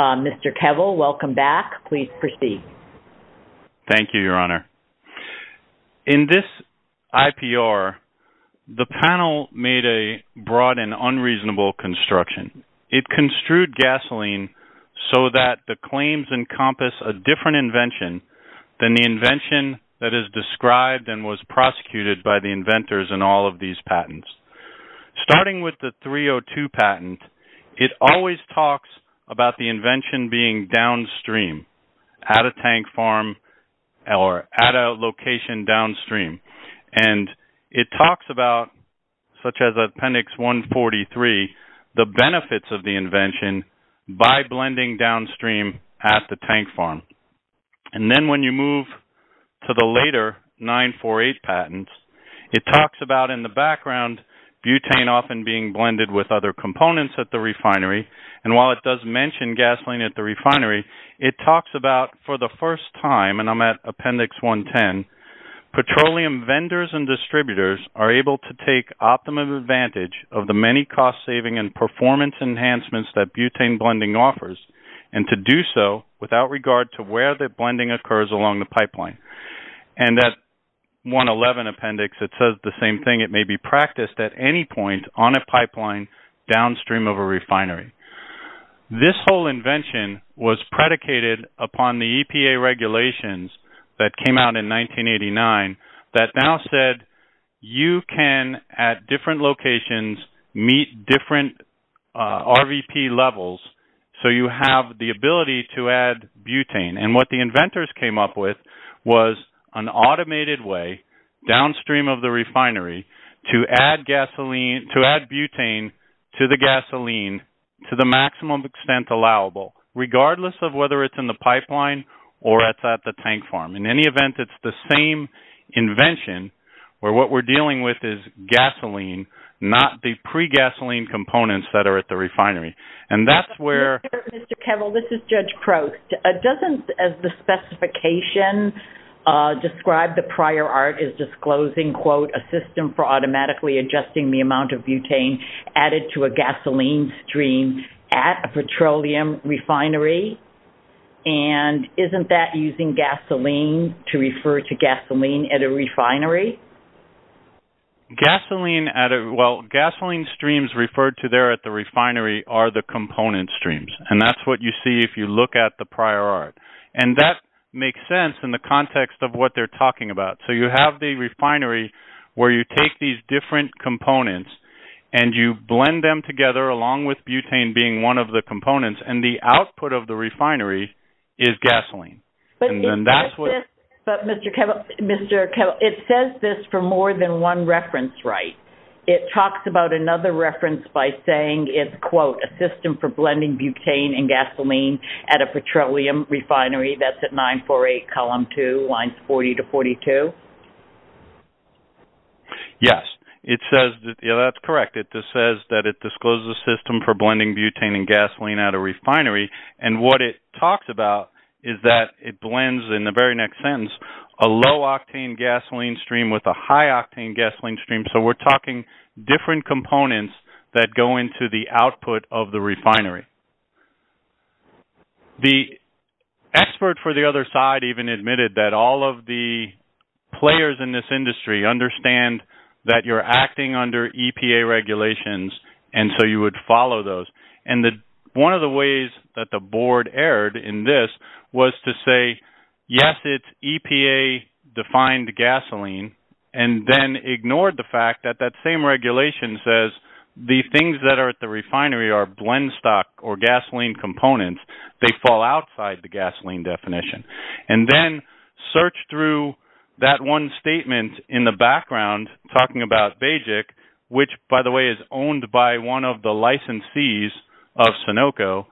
Mr. Kevil, welcome back. Please proceed. Thank you, Your Honor. In this IPR, the panel made a broad and unreasonable construction. It construed gasoline so that the claims encompass a different invention than the invention that is described and was prosecuted by the inventors in all of these patents. Starting with the 302 patent, it always talks about the invention being downstream at a tank farm or at a location downstream. And it talks about, such as Appendix 143, the benefits of the invention by blending downstream at the tank farm. And then when you move to the later 948 patents, it talks about in the background butane often being blended with other components at the refinery. And while it does mention gasoline at the refinery, it talks about for the first time, and I'm at Appendix 110, petroleum vendors and distributors are able to take optimum advantage of the many cost-saving and performance enhancements that butane blending offers and to do so without regard to where the blending occurs along the pipeline. And that 111 appendix, it says the same thing. It may be practiced at any point on a pipeline downstream of a refinery. This whole invention was predicated upon the EPA regulations that came out in 1989 that now said you can, at different locations, meet different RVP levels so you have the ability to add butane. And what the inventors came up with was an automated way downstream of the refinery to add butane to the gasoline to the maximum extent allowable, regardless of whether it's in the pipeline or it's at the tank farm. In any event, it's the same invention where what we're dealing with is gasoline, not the pre-gasoline components that are at the refinery. And that's where... Mr. Kevil, this is Judge Crost. Doesn't, as the specification described, the prior art is disclosing, quote, a system for automatically adjusting the amount of butane added to a refinery. And isn't that using gasoline to refer to gasoline at a refinery? Gasoline at a... Well, gasoline streams referred to there at the refinery are the component streams. And that's what you see if you look at the prior art. And that makes sense in the context of what they're talking about. So you have the refinery where you take these different components and you blend them together, along with butane being one of the components. And the output of the refinery is gasoline. And then that's what... But, Mr. Kevil, it says this for more than one reference, right? It talks about another reference by saying it's, quote, a system for blending butane and gasoline at a petroleum refinery. That's at 948 column 2, lines 40 to 42. Yes. It says that, yeah, that's correct. It just says it's a system for blending butane and gasoline at a refinery. And what it talks about is that it blends, in the very next sentence, a low-octane gasoline stream with a high-octane gasoline stream. So we're talking different components that go into the output of the refinery. The expert for the other side even admitted that all of the players in this industry understand that you're acting under EPA regulations, and so you would follow those. And one of the ways that the board erred in this was to say, yes, it's EPA-defined gasoline, and then ignored the fact that that same regulation says the things that are at the refinery are blendstock or gasoline components. They fall outside the gasoline definition. And then search through that one statement in the background, talking about BAEJEC, which, by the way, is owned by one of the licensees of Sunoco,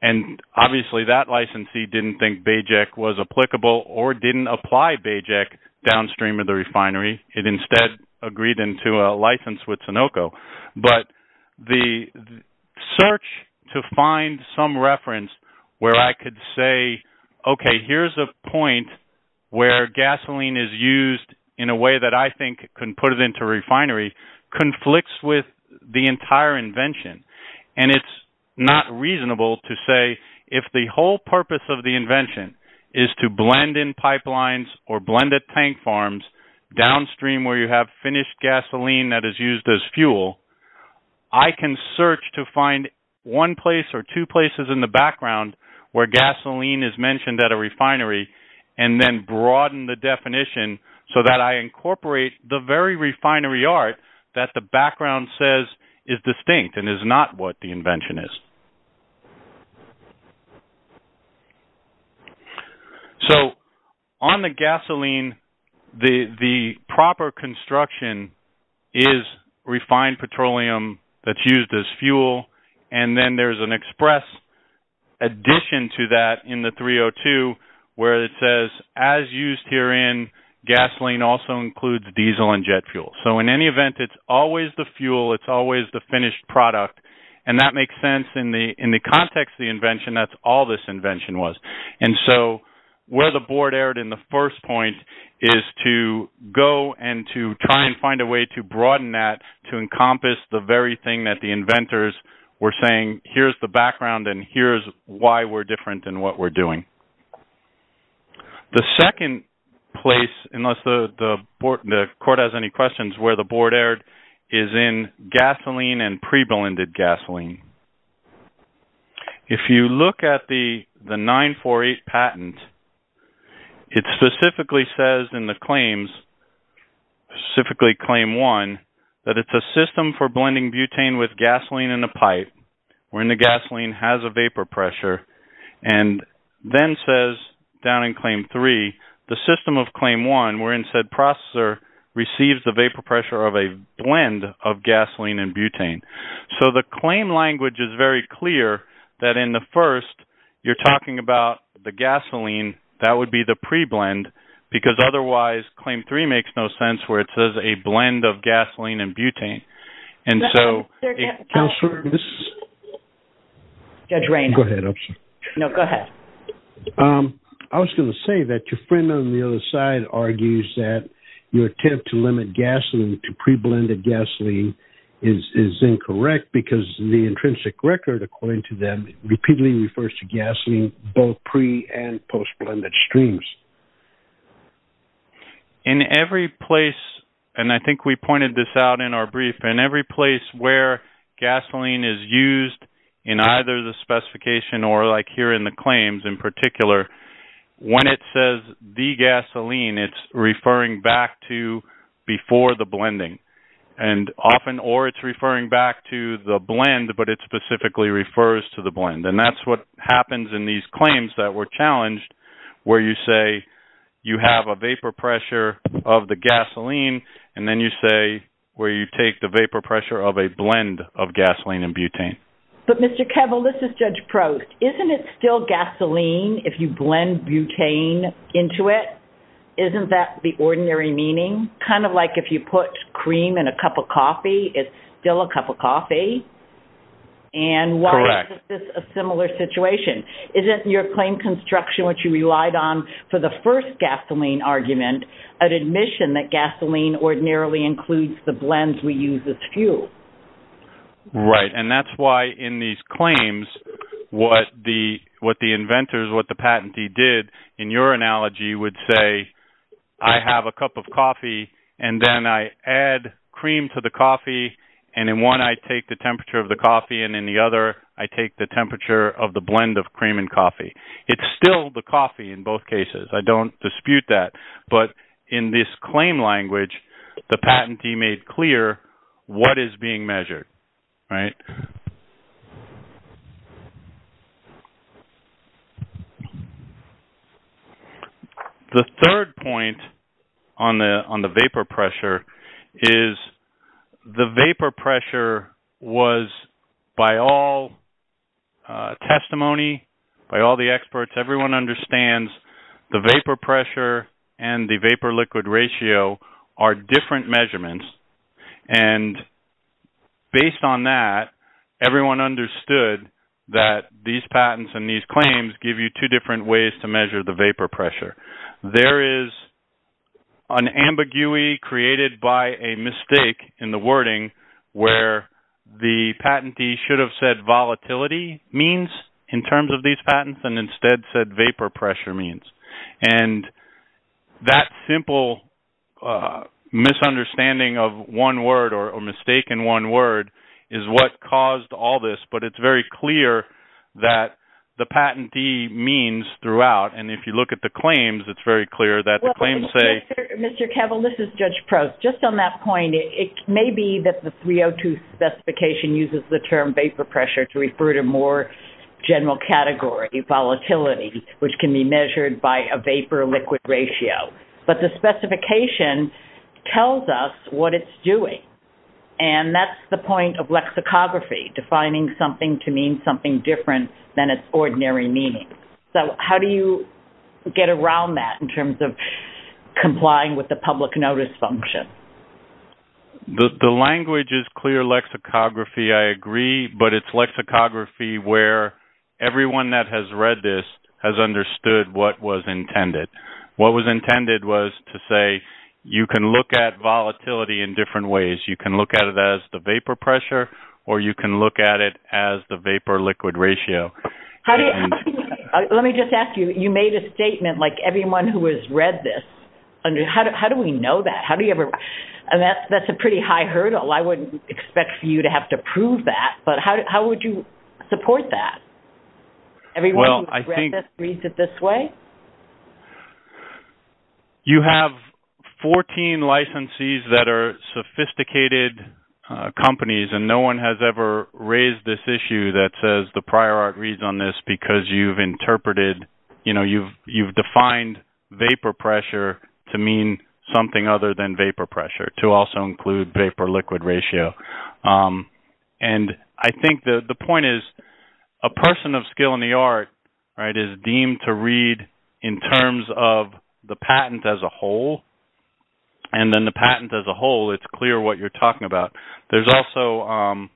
and obviously that licensee didn't think BAEJEC was applicable or didn't apply BAEJEC downstream of the refinery. It instead agreed into a license with Sunoco. But the search to find some reference where I could say, okay, here's a point where gasoline is used in a way that I think can put it into refinery conflicts with the entire invention. And it's not reasonable to say if the whole purpose of the invention is to blend in pipelines or blend at tank farms downstream where you have finished gasoline that is used as fuel, I can search to find one place or two places in the background where gasoline is mentioned at a refinery and then broaden the definition so that I incorporate the very refinery art that the background says is distinct and is not what the invention is. So on the gasoline, the proper construction is refined petroleum that's used as fuel, and then there's an express addition to that in the 302 where it says, as used herein, gasoline also includes diesel and jet fuel. So in any event, it's always the fuel, it's always the finished product, and that makes sense in the context of the invention, that's all this invention was. And so where the board erred in the first point is to go and to try and find a way to broaden that to encompass the very thing that the inventors were saying, here's the background and here's why we're different in what we're doing. The second place, unless the court has any questions, where the board erred is in gasoline and pre-blended gasoline. If you look at the 948 patent, it specifically says in the claims, specifically claim one, that it's a system for blending butane with gasoline in a pipe, wherein the gasoline has a vapor pressure, and then says down in claim three, the system of claim one wherein said processor receives the vapor pressure of a blend of gasoline and butane. So the claim language is very clear that in the first, you're talking about the gasoline, that would be the pre-blend, because otherwise, claim three makes no sense where it says a blend of gasoline and butane. And so... Judge Reynolds? No, go ahead. I was going to say that your friend on the other side argues that your attempt to limit gasoline to pre-blended gasoline is incorrect because the intrinsic record, according to them, repeatedly refers to gasoline both pre- and post-blended streams. In every place, and I think we pointed this out in our brief, in every place where gasoline is used in either the specification or like here in the claims, in particular, when it says degasoline, it's referring back to before the blending. And often, or it's referring back to the blend, but it specifically refers to the blend. And that's what happens in these claims that were challenged where you say you have a vapor pressure of the gasoline, and then you say where you take the vapor pressure of a blend of gasoline and butane. But Mr. Kevill, this is Judge Prost. Isn't it still gasoline if you blend butane into it? Isn't that the ordinary meaning? Kind of like if you put cream in a cup of coffee, it's still a cup of coffee. And why is this a similar situation? Is it your claim construction, which you relied on for the first gasoline argument, an admission that gasoline ordinarily includes the blends we use as fuel? Right. And that's why in these claims, what the inventors, what the patentee did in your analogy would say, I have a cup of coffee, and then I add cream to the coffee, and in one, I take the temperature of the coffee, and in the other, I take the temperature of the blend of cream and coffee. It's still the coffee in both cases. I don't dispute that. But in this claim language, the patentee made clear what is being measured, right? The third point on the vapor pressure is the vapor pressure was, by all testimony, by all the experts, everyone understands the vapor pressure and the vapor-liquid ratio are different measurements. And based on that, everyone understood that these patents and these claims give you two different ways to measure the vapor pressure. There is an ambiguity created by a mistake in the wording where the patentee should have said volatility means in terms of these patents and instead said vapor pressure means. And that simple misunderstanding of one word or a mistake in one word is what caused all this, but it's very clear that the patentee means throughout, and if you look at the claims, it's very clear that the claims say... Mr. Kevel, this is Judge Prost. Just on that point, it may be that the 302 specification uses the term vapor pressure to refer to more general category volatility, which can be measured by a vapor-liquid ratio, but the specification tells us what it's doing. And that's the point of lexicography, defining something to mean something different than its ordinary meaning. So how do you get around that in terms of complying with the public notice function? The language is clear lexicography, I agree, but it's lexicography where everyone that has read this has understood what was intended. What was intended was to say you can look at volatility in different ways. You can look at it as the vapor pressure or you can look at it as the vapor-liquid ratio. Let me just ask you, you made a statement like everyone who has read this, how do we know that? And that's a pretty high hurdle. I wouldn't expect for you to have to prove that, but how would you support that? Everyone who has read this reads it this way? You have 14 licensees that are sophisticated companies and no one has ever raised this issue that says the prior art reads on this because you've interpreted, you know, you've defined vapor pressure to mean something other than vapor pressure to also include vapor-liquid ratio. I think the point is a person of skill in the art is deemed to read in terms of the patent as a whole and then the patent as a whole, it's clear what you're talking about. There's also,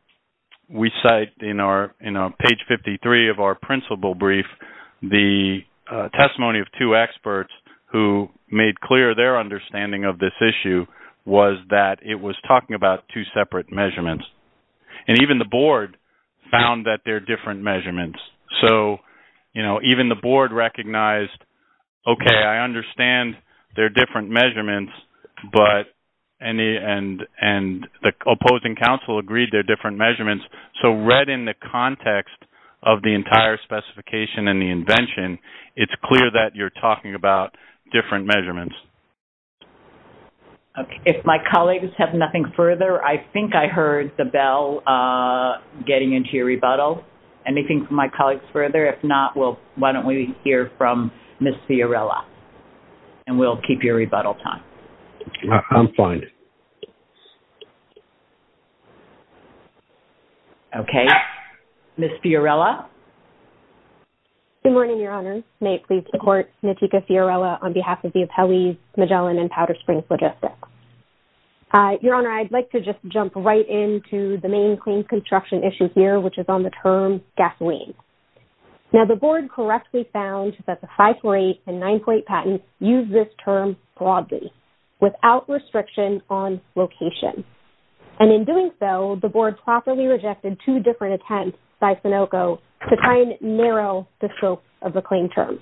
we cite in our page 53 of our principal brief, the testimony of two experts who made clear their understanding of this issue was that it was talking about two separate measurements. And even the board found that they're different measurements. So, even the opposing counsel agreed they're different measurements. So, read in the context of the entire specification and the invention, it's clear that you're talking about different measurements. If my colleagues have nothing further, I think I heard the bell getting into your rebuttal. Anything from my colleagues further? If not, why don't we hear from Ms. Fiorella and we'll keep your rebuttal time. I'm fine. Okay. Ms. Fiorella. Good morning, Your Honor. May it please the court, Natika Fiorella on behalf of the Appellees Magellan and Powder Springs Logistics. Your Honor, I'd like to just jump right into the main clean construction issue here, which is on the term gasoline. Now, the board correctly found that the 548 and 948 patents use this term broadly without restriction on location. And in doing so, the board properly rejected two different attempts by Sunoco to try and narrow the scope of the claim term.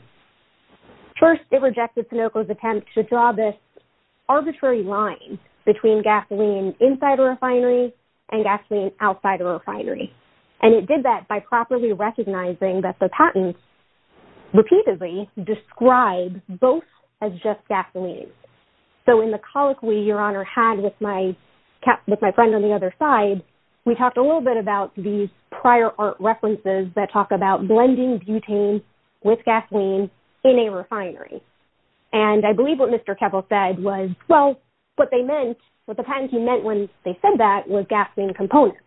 First, it rejected Sunoco's attempt to draw this arbitrary line between gasoline inside a refinery and gasoline outside of a refinery. And it did that by properly recognizing that the patent repeatedly described both as just gasoline. So, in the colloquy Your Honor had with my friend on the other side, we talked a little bit about these prior art references that talk about blending butane with gasoline in a refinery. And I believe what Mr. Kevel said was, well, what they meant, what the patentee meant when they said that was gasoline components.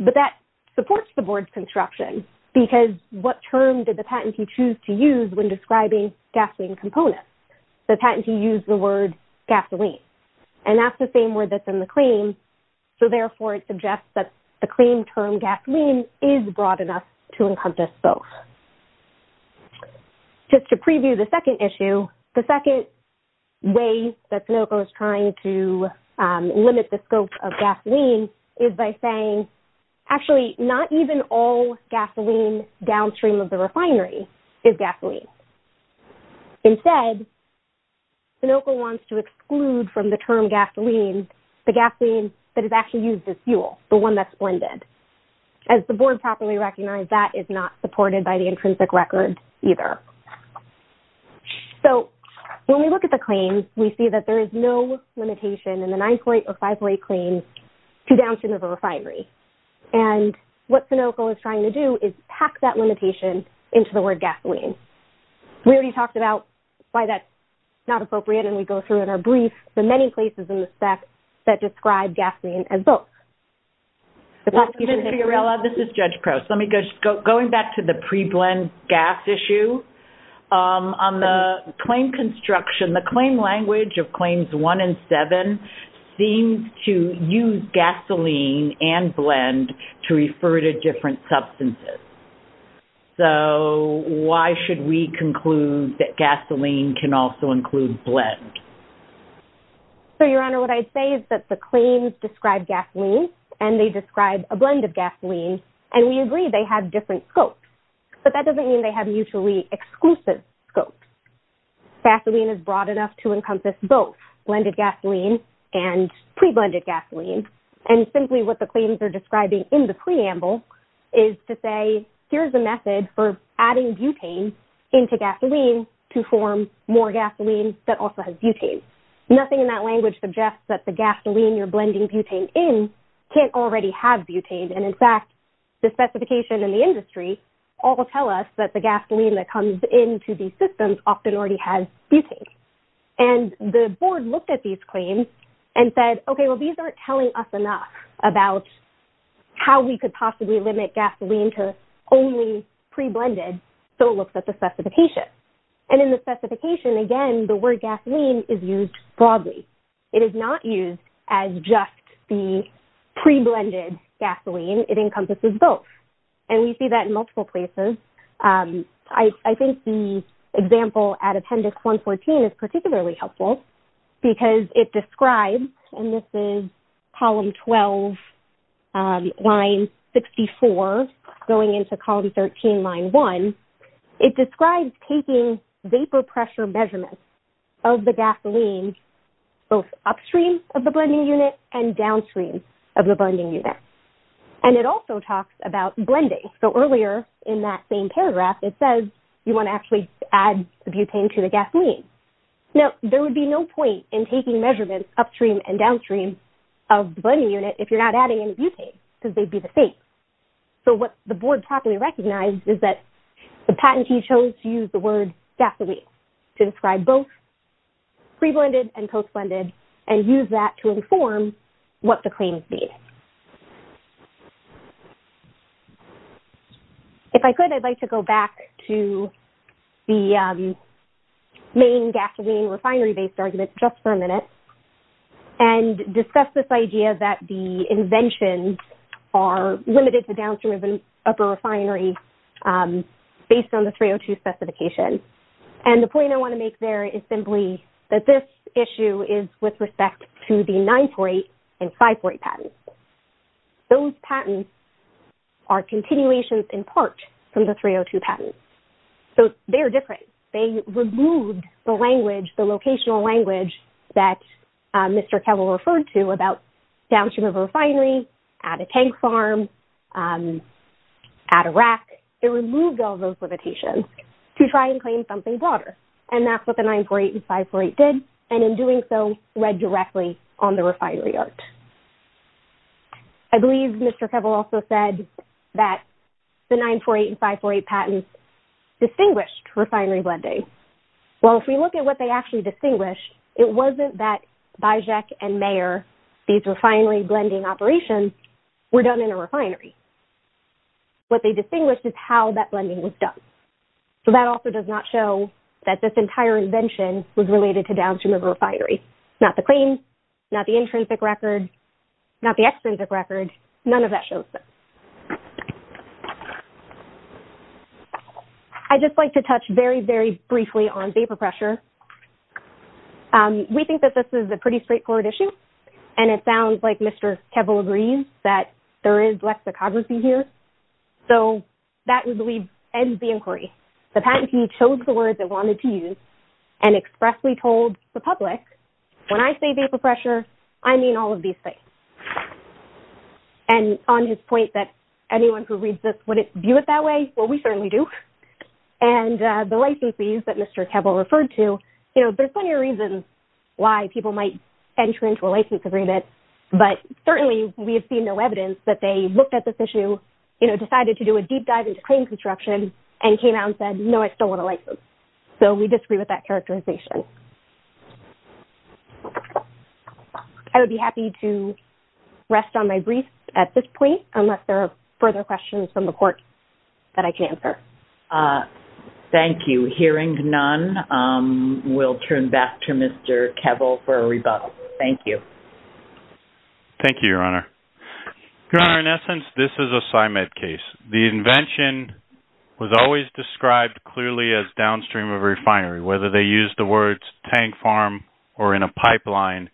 But that supports the board's construction, because what term did the patentee choose to use when describing gasoline components? The patentee used the word gasoline. And that's the same word that's in the claim. So, therefore, it suggests that the claim term gasoline is broad enough to encompass both. Just to preview the second issue, the second way that Sunoco is trying to limit the scope of gasoline is by saying, actually, not even all gasoline downstream of the refinery is gasoline. Instead, Sunoco wants to exclude from the term gasoline, the gasoline that is actually used as fuel, the one that's blended. As the board properly recognized, that is not supported by the intrinsic record either. So, when we look at the claim, we see that there is no limitation in the 9.058 claim to downstream of a refinery. And what Sunoco is trying to do is pack that limitation into the word gasoline. We already talked about why that's not appropriate. And we go through in our brief the many places in the spec that describe gasoline as both. Ms. Fiorella, this is Judge Prost. Going back to the pre-blend gas issue, on the claim construction, the claim language of Claims 1 and 7 seems to use gasoline and blend to refer to different substances. So, why should we conclude that gasoline can also include blend? So, Your Honor, what I'd say is that the claims describe gasoline, and they describe a blend of gasoline. And we agree they have different scopes. But that doesn't mean they have mutually exclusive scopes. Gasoline is broad enough to encompass both blended gasoline and pre-blended gasoline. And simply what the claims are describing in the preamble is to say, here's a method for adding butane into gasoline to form more gasoline that also has butane. Nothing in that language suggests that the gasoline you're blending butane in can't already have butane. And in fact, the specification in the industry all tell us that the gasoline that comes into these systems often already has butane. And the Board looked at these claims and said, okay, well, these aren't telling us enough about how we could possibly limit gasoline to only pre-blended. So, it looks at the specification. And in the pre-blended gasoline, it encompasses both. And we see that in multiple places. I think the example at Appendix 114 is particularly helpful because it describes, and this is Column 12, Line 64, going into Column 13, Line 1. It describes taking vapor pressure measurements of the gasoline both upstream of the blending unit and downstream. And it also talks about blending. So, earlier in that same paragraph, it says you want to actually add butane to the gasoline. Now, there would be no point in taking measurements upstream and downstream of the blending unit if you're not adding any butane because they'd be the same. So, what the Board properly recognized is that the patentee chose to use the word gasoline to describe both pre-blended and post-blended and use that to inform what the team sees. If I could, I'd like to go back to the main gasoline refinery-based argument just for a minute and discuss this idea that the inventions are limited to downstream of the refinery based on the 302 specification. And the point I want to make there is simply that this is a patent. Those patents are continuations in part from the 302 patents. So, they're different. They removed the language, the locational language that Mr. Kevel referred to about downstream of a refinery, add a tank farm, add a rack. It removed all those limitations to try and claim something broader. And that's what the 948 and 548 did. And in doing so, read directly on the refinery art. I believe Mr. Kevel also said that the 948 and 548 patents distinguished refinery blending. Well, if we look at what they actually distinguished, it wasn't that Bijak and Mayer, these refinery blending operations were done in a refinery. What they distinguished is how that blending was done. So, that also does not show that this entire invention was related to downstream of a refinery. Not the claims, not the intrinsic record, not the extrinsic record, none of that shows. I'd just like to touch very, very briefly on vapor pressure. We think that this is a pretty straightforward issue. And it sounds like Mr. Kevel agrees that there is lexicography here. So, that, we believe, ends the inquiry. The patentee chose the words they wanted to use and expressly told the public, when I say vapor pressure, I mean all of these things. And on his point that anyone who reads this wouldn't view it that way, well, we certainly do. And the licensees that Mr. Kevel referred to, you know, there's plenty of reasons why people might enter into a license agreement. But certainly, we have seen no evidence that they looked at this issue, you know, decided to do a deep dive into claim construction, and came out and said, no, I still want a license. So, we disagree with that characterization. I would be happy to rest on my brief at this point, unless there are further questions from the court that I can answer. Thank you. Hearing none, we'll turn back to Mr. Kevel for a rebuttal. Thank you. Thank you, Your Honor. Your Honor, in essence, this is a CIMED case. The invention was always described clearly as downstream of refinery, whether they used the words tank farm or in a pipeline.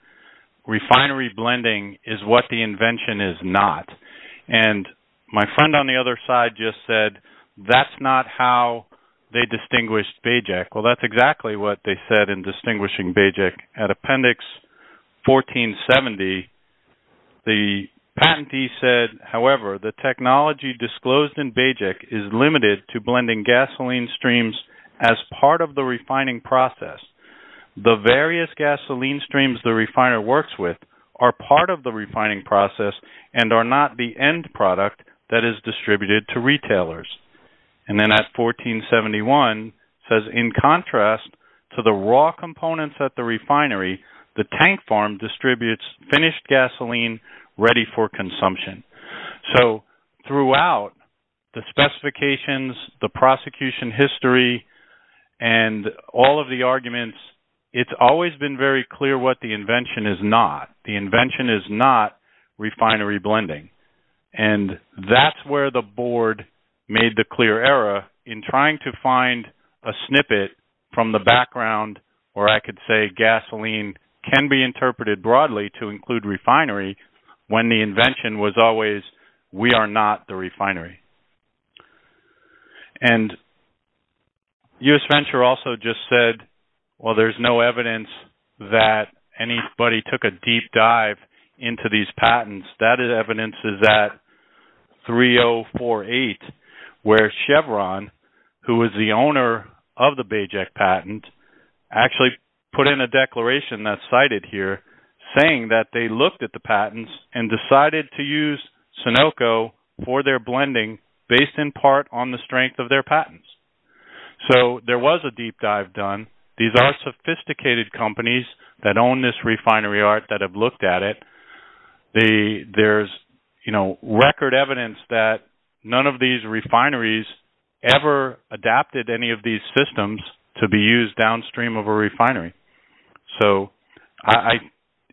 Refinery blending is what the invention is not. And my friend on the other side just said, that's not how they distinguished BAEJEC. Well, that's exactly what they said in distinguishing BAEJEC. At Appendix 1470, the patentee said, however, the technology disclosed in BAEJEC is limited to blending gasoline streams as part of the refining process. The various gasoline streams the refiner works with are part of the refining process and are not the end product that is distributed to retailers. And then at 1471, it says, in contrast to the raw components at the refinery, the tank farm distributes finished gasoline ready for consumption. So throughout the specifications, the prosecution history, and all of the arguments, it's always been very clear what the invention is not. The invention is not refinery blending. And that's where the board made the clear error in trying to find a snippet from the background where I could say gasoline can be interpreted broadly to include refinery when the invention was always, we are not the refinery. And U.S. Venture also just said, well, there's no evidence that anybody took a deep dive into these patents. That evidence is at 3048 where Chevron, who is the owner of the BAEJEC patent, actually put in a declaration that's cited here saying that they looked at the patents and decided to use Sunoco for their blending based in part on the strength of their patents. So there was a deep dive done. These are sophisticated companies that own this refinery art that have looked at it. There's record evidence that none of these refineries ever adapted any of these systems to be used downstream of a refinery. So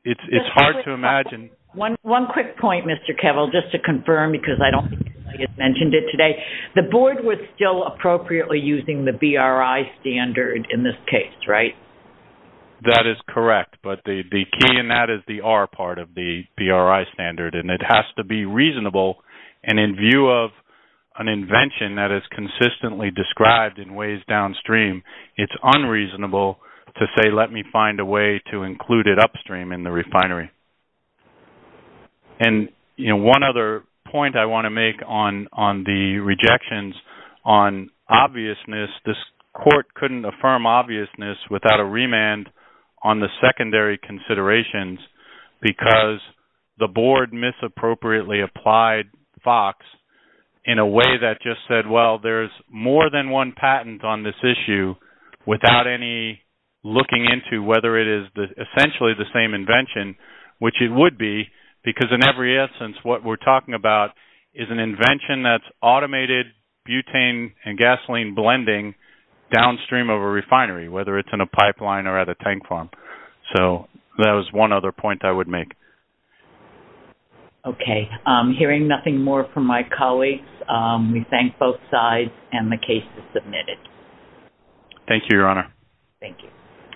it's hard to imagine. One quick point, Mr. Kevil, just to confirm because I don't think I mentioned it today. The board was still appropriately using the BRI standard in this case, right? That is correct. But the key in that is the R part of the BRI standard, and it has to be reasonable. And in view of an invention that is consistently described in ways downstream, it's unreasonable to say, let me find a way to include it upstream in the refinery. And one other point I want to make on the rejections on obviousness, this court couldn't affirm obviousness without a remand on the secondary considerations, because the board misappropriately applied FOX in a way that just said, well, there's more than one patent on this issue without any looking into whether it is essentially the same invention, which it would be, because in every instance, what we're talking about is an invention that's automated butane and gasoline blending downstream of a refinery, whether it's in a pipeline or at a tank farm. So that was one other point I would make. Okay. Hearing nothing more from my colleagues, we thank both sides, and the case is submitted. Thank you, Your Honor. Thank you.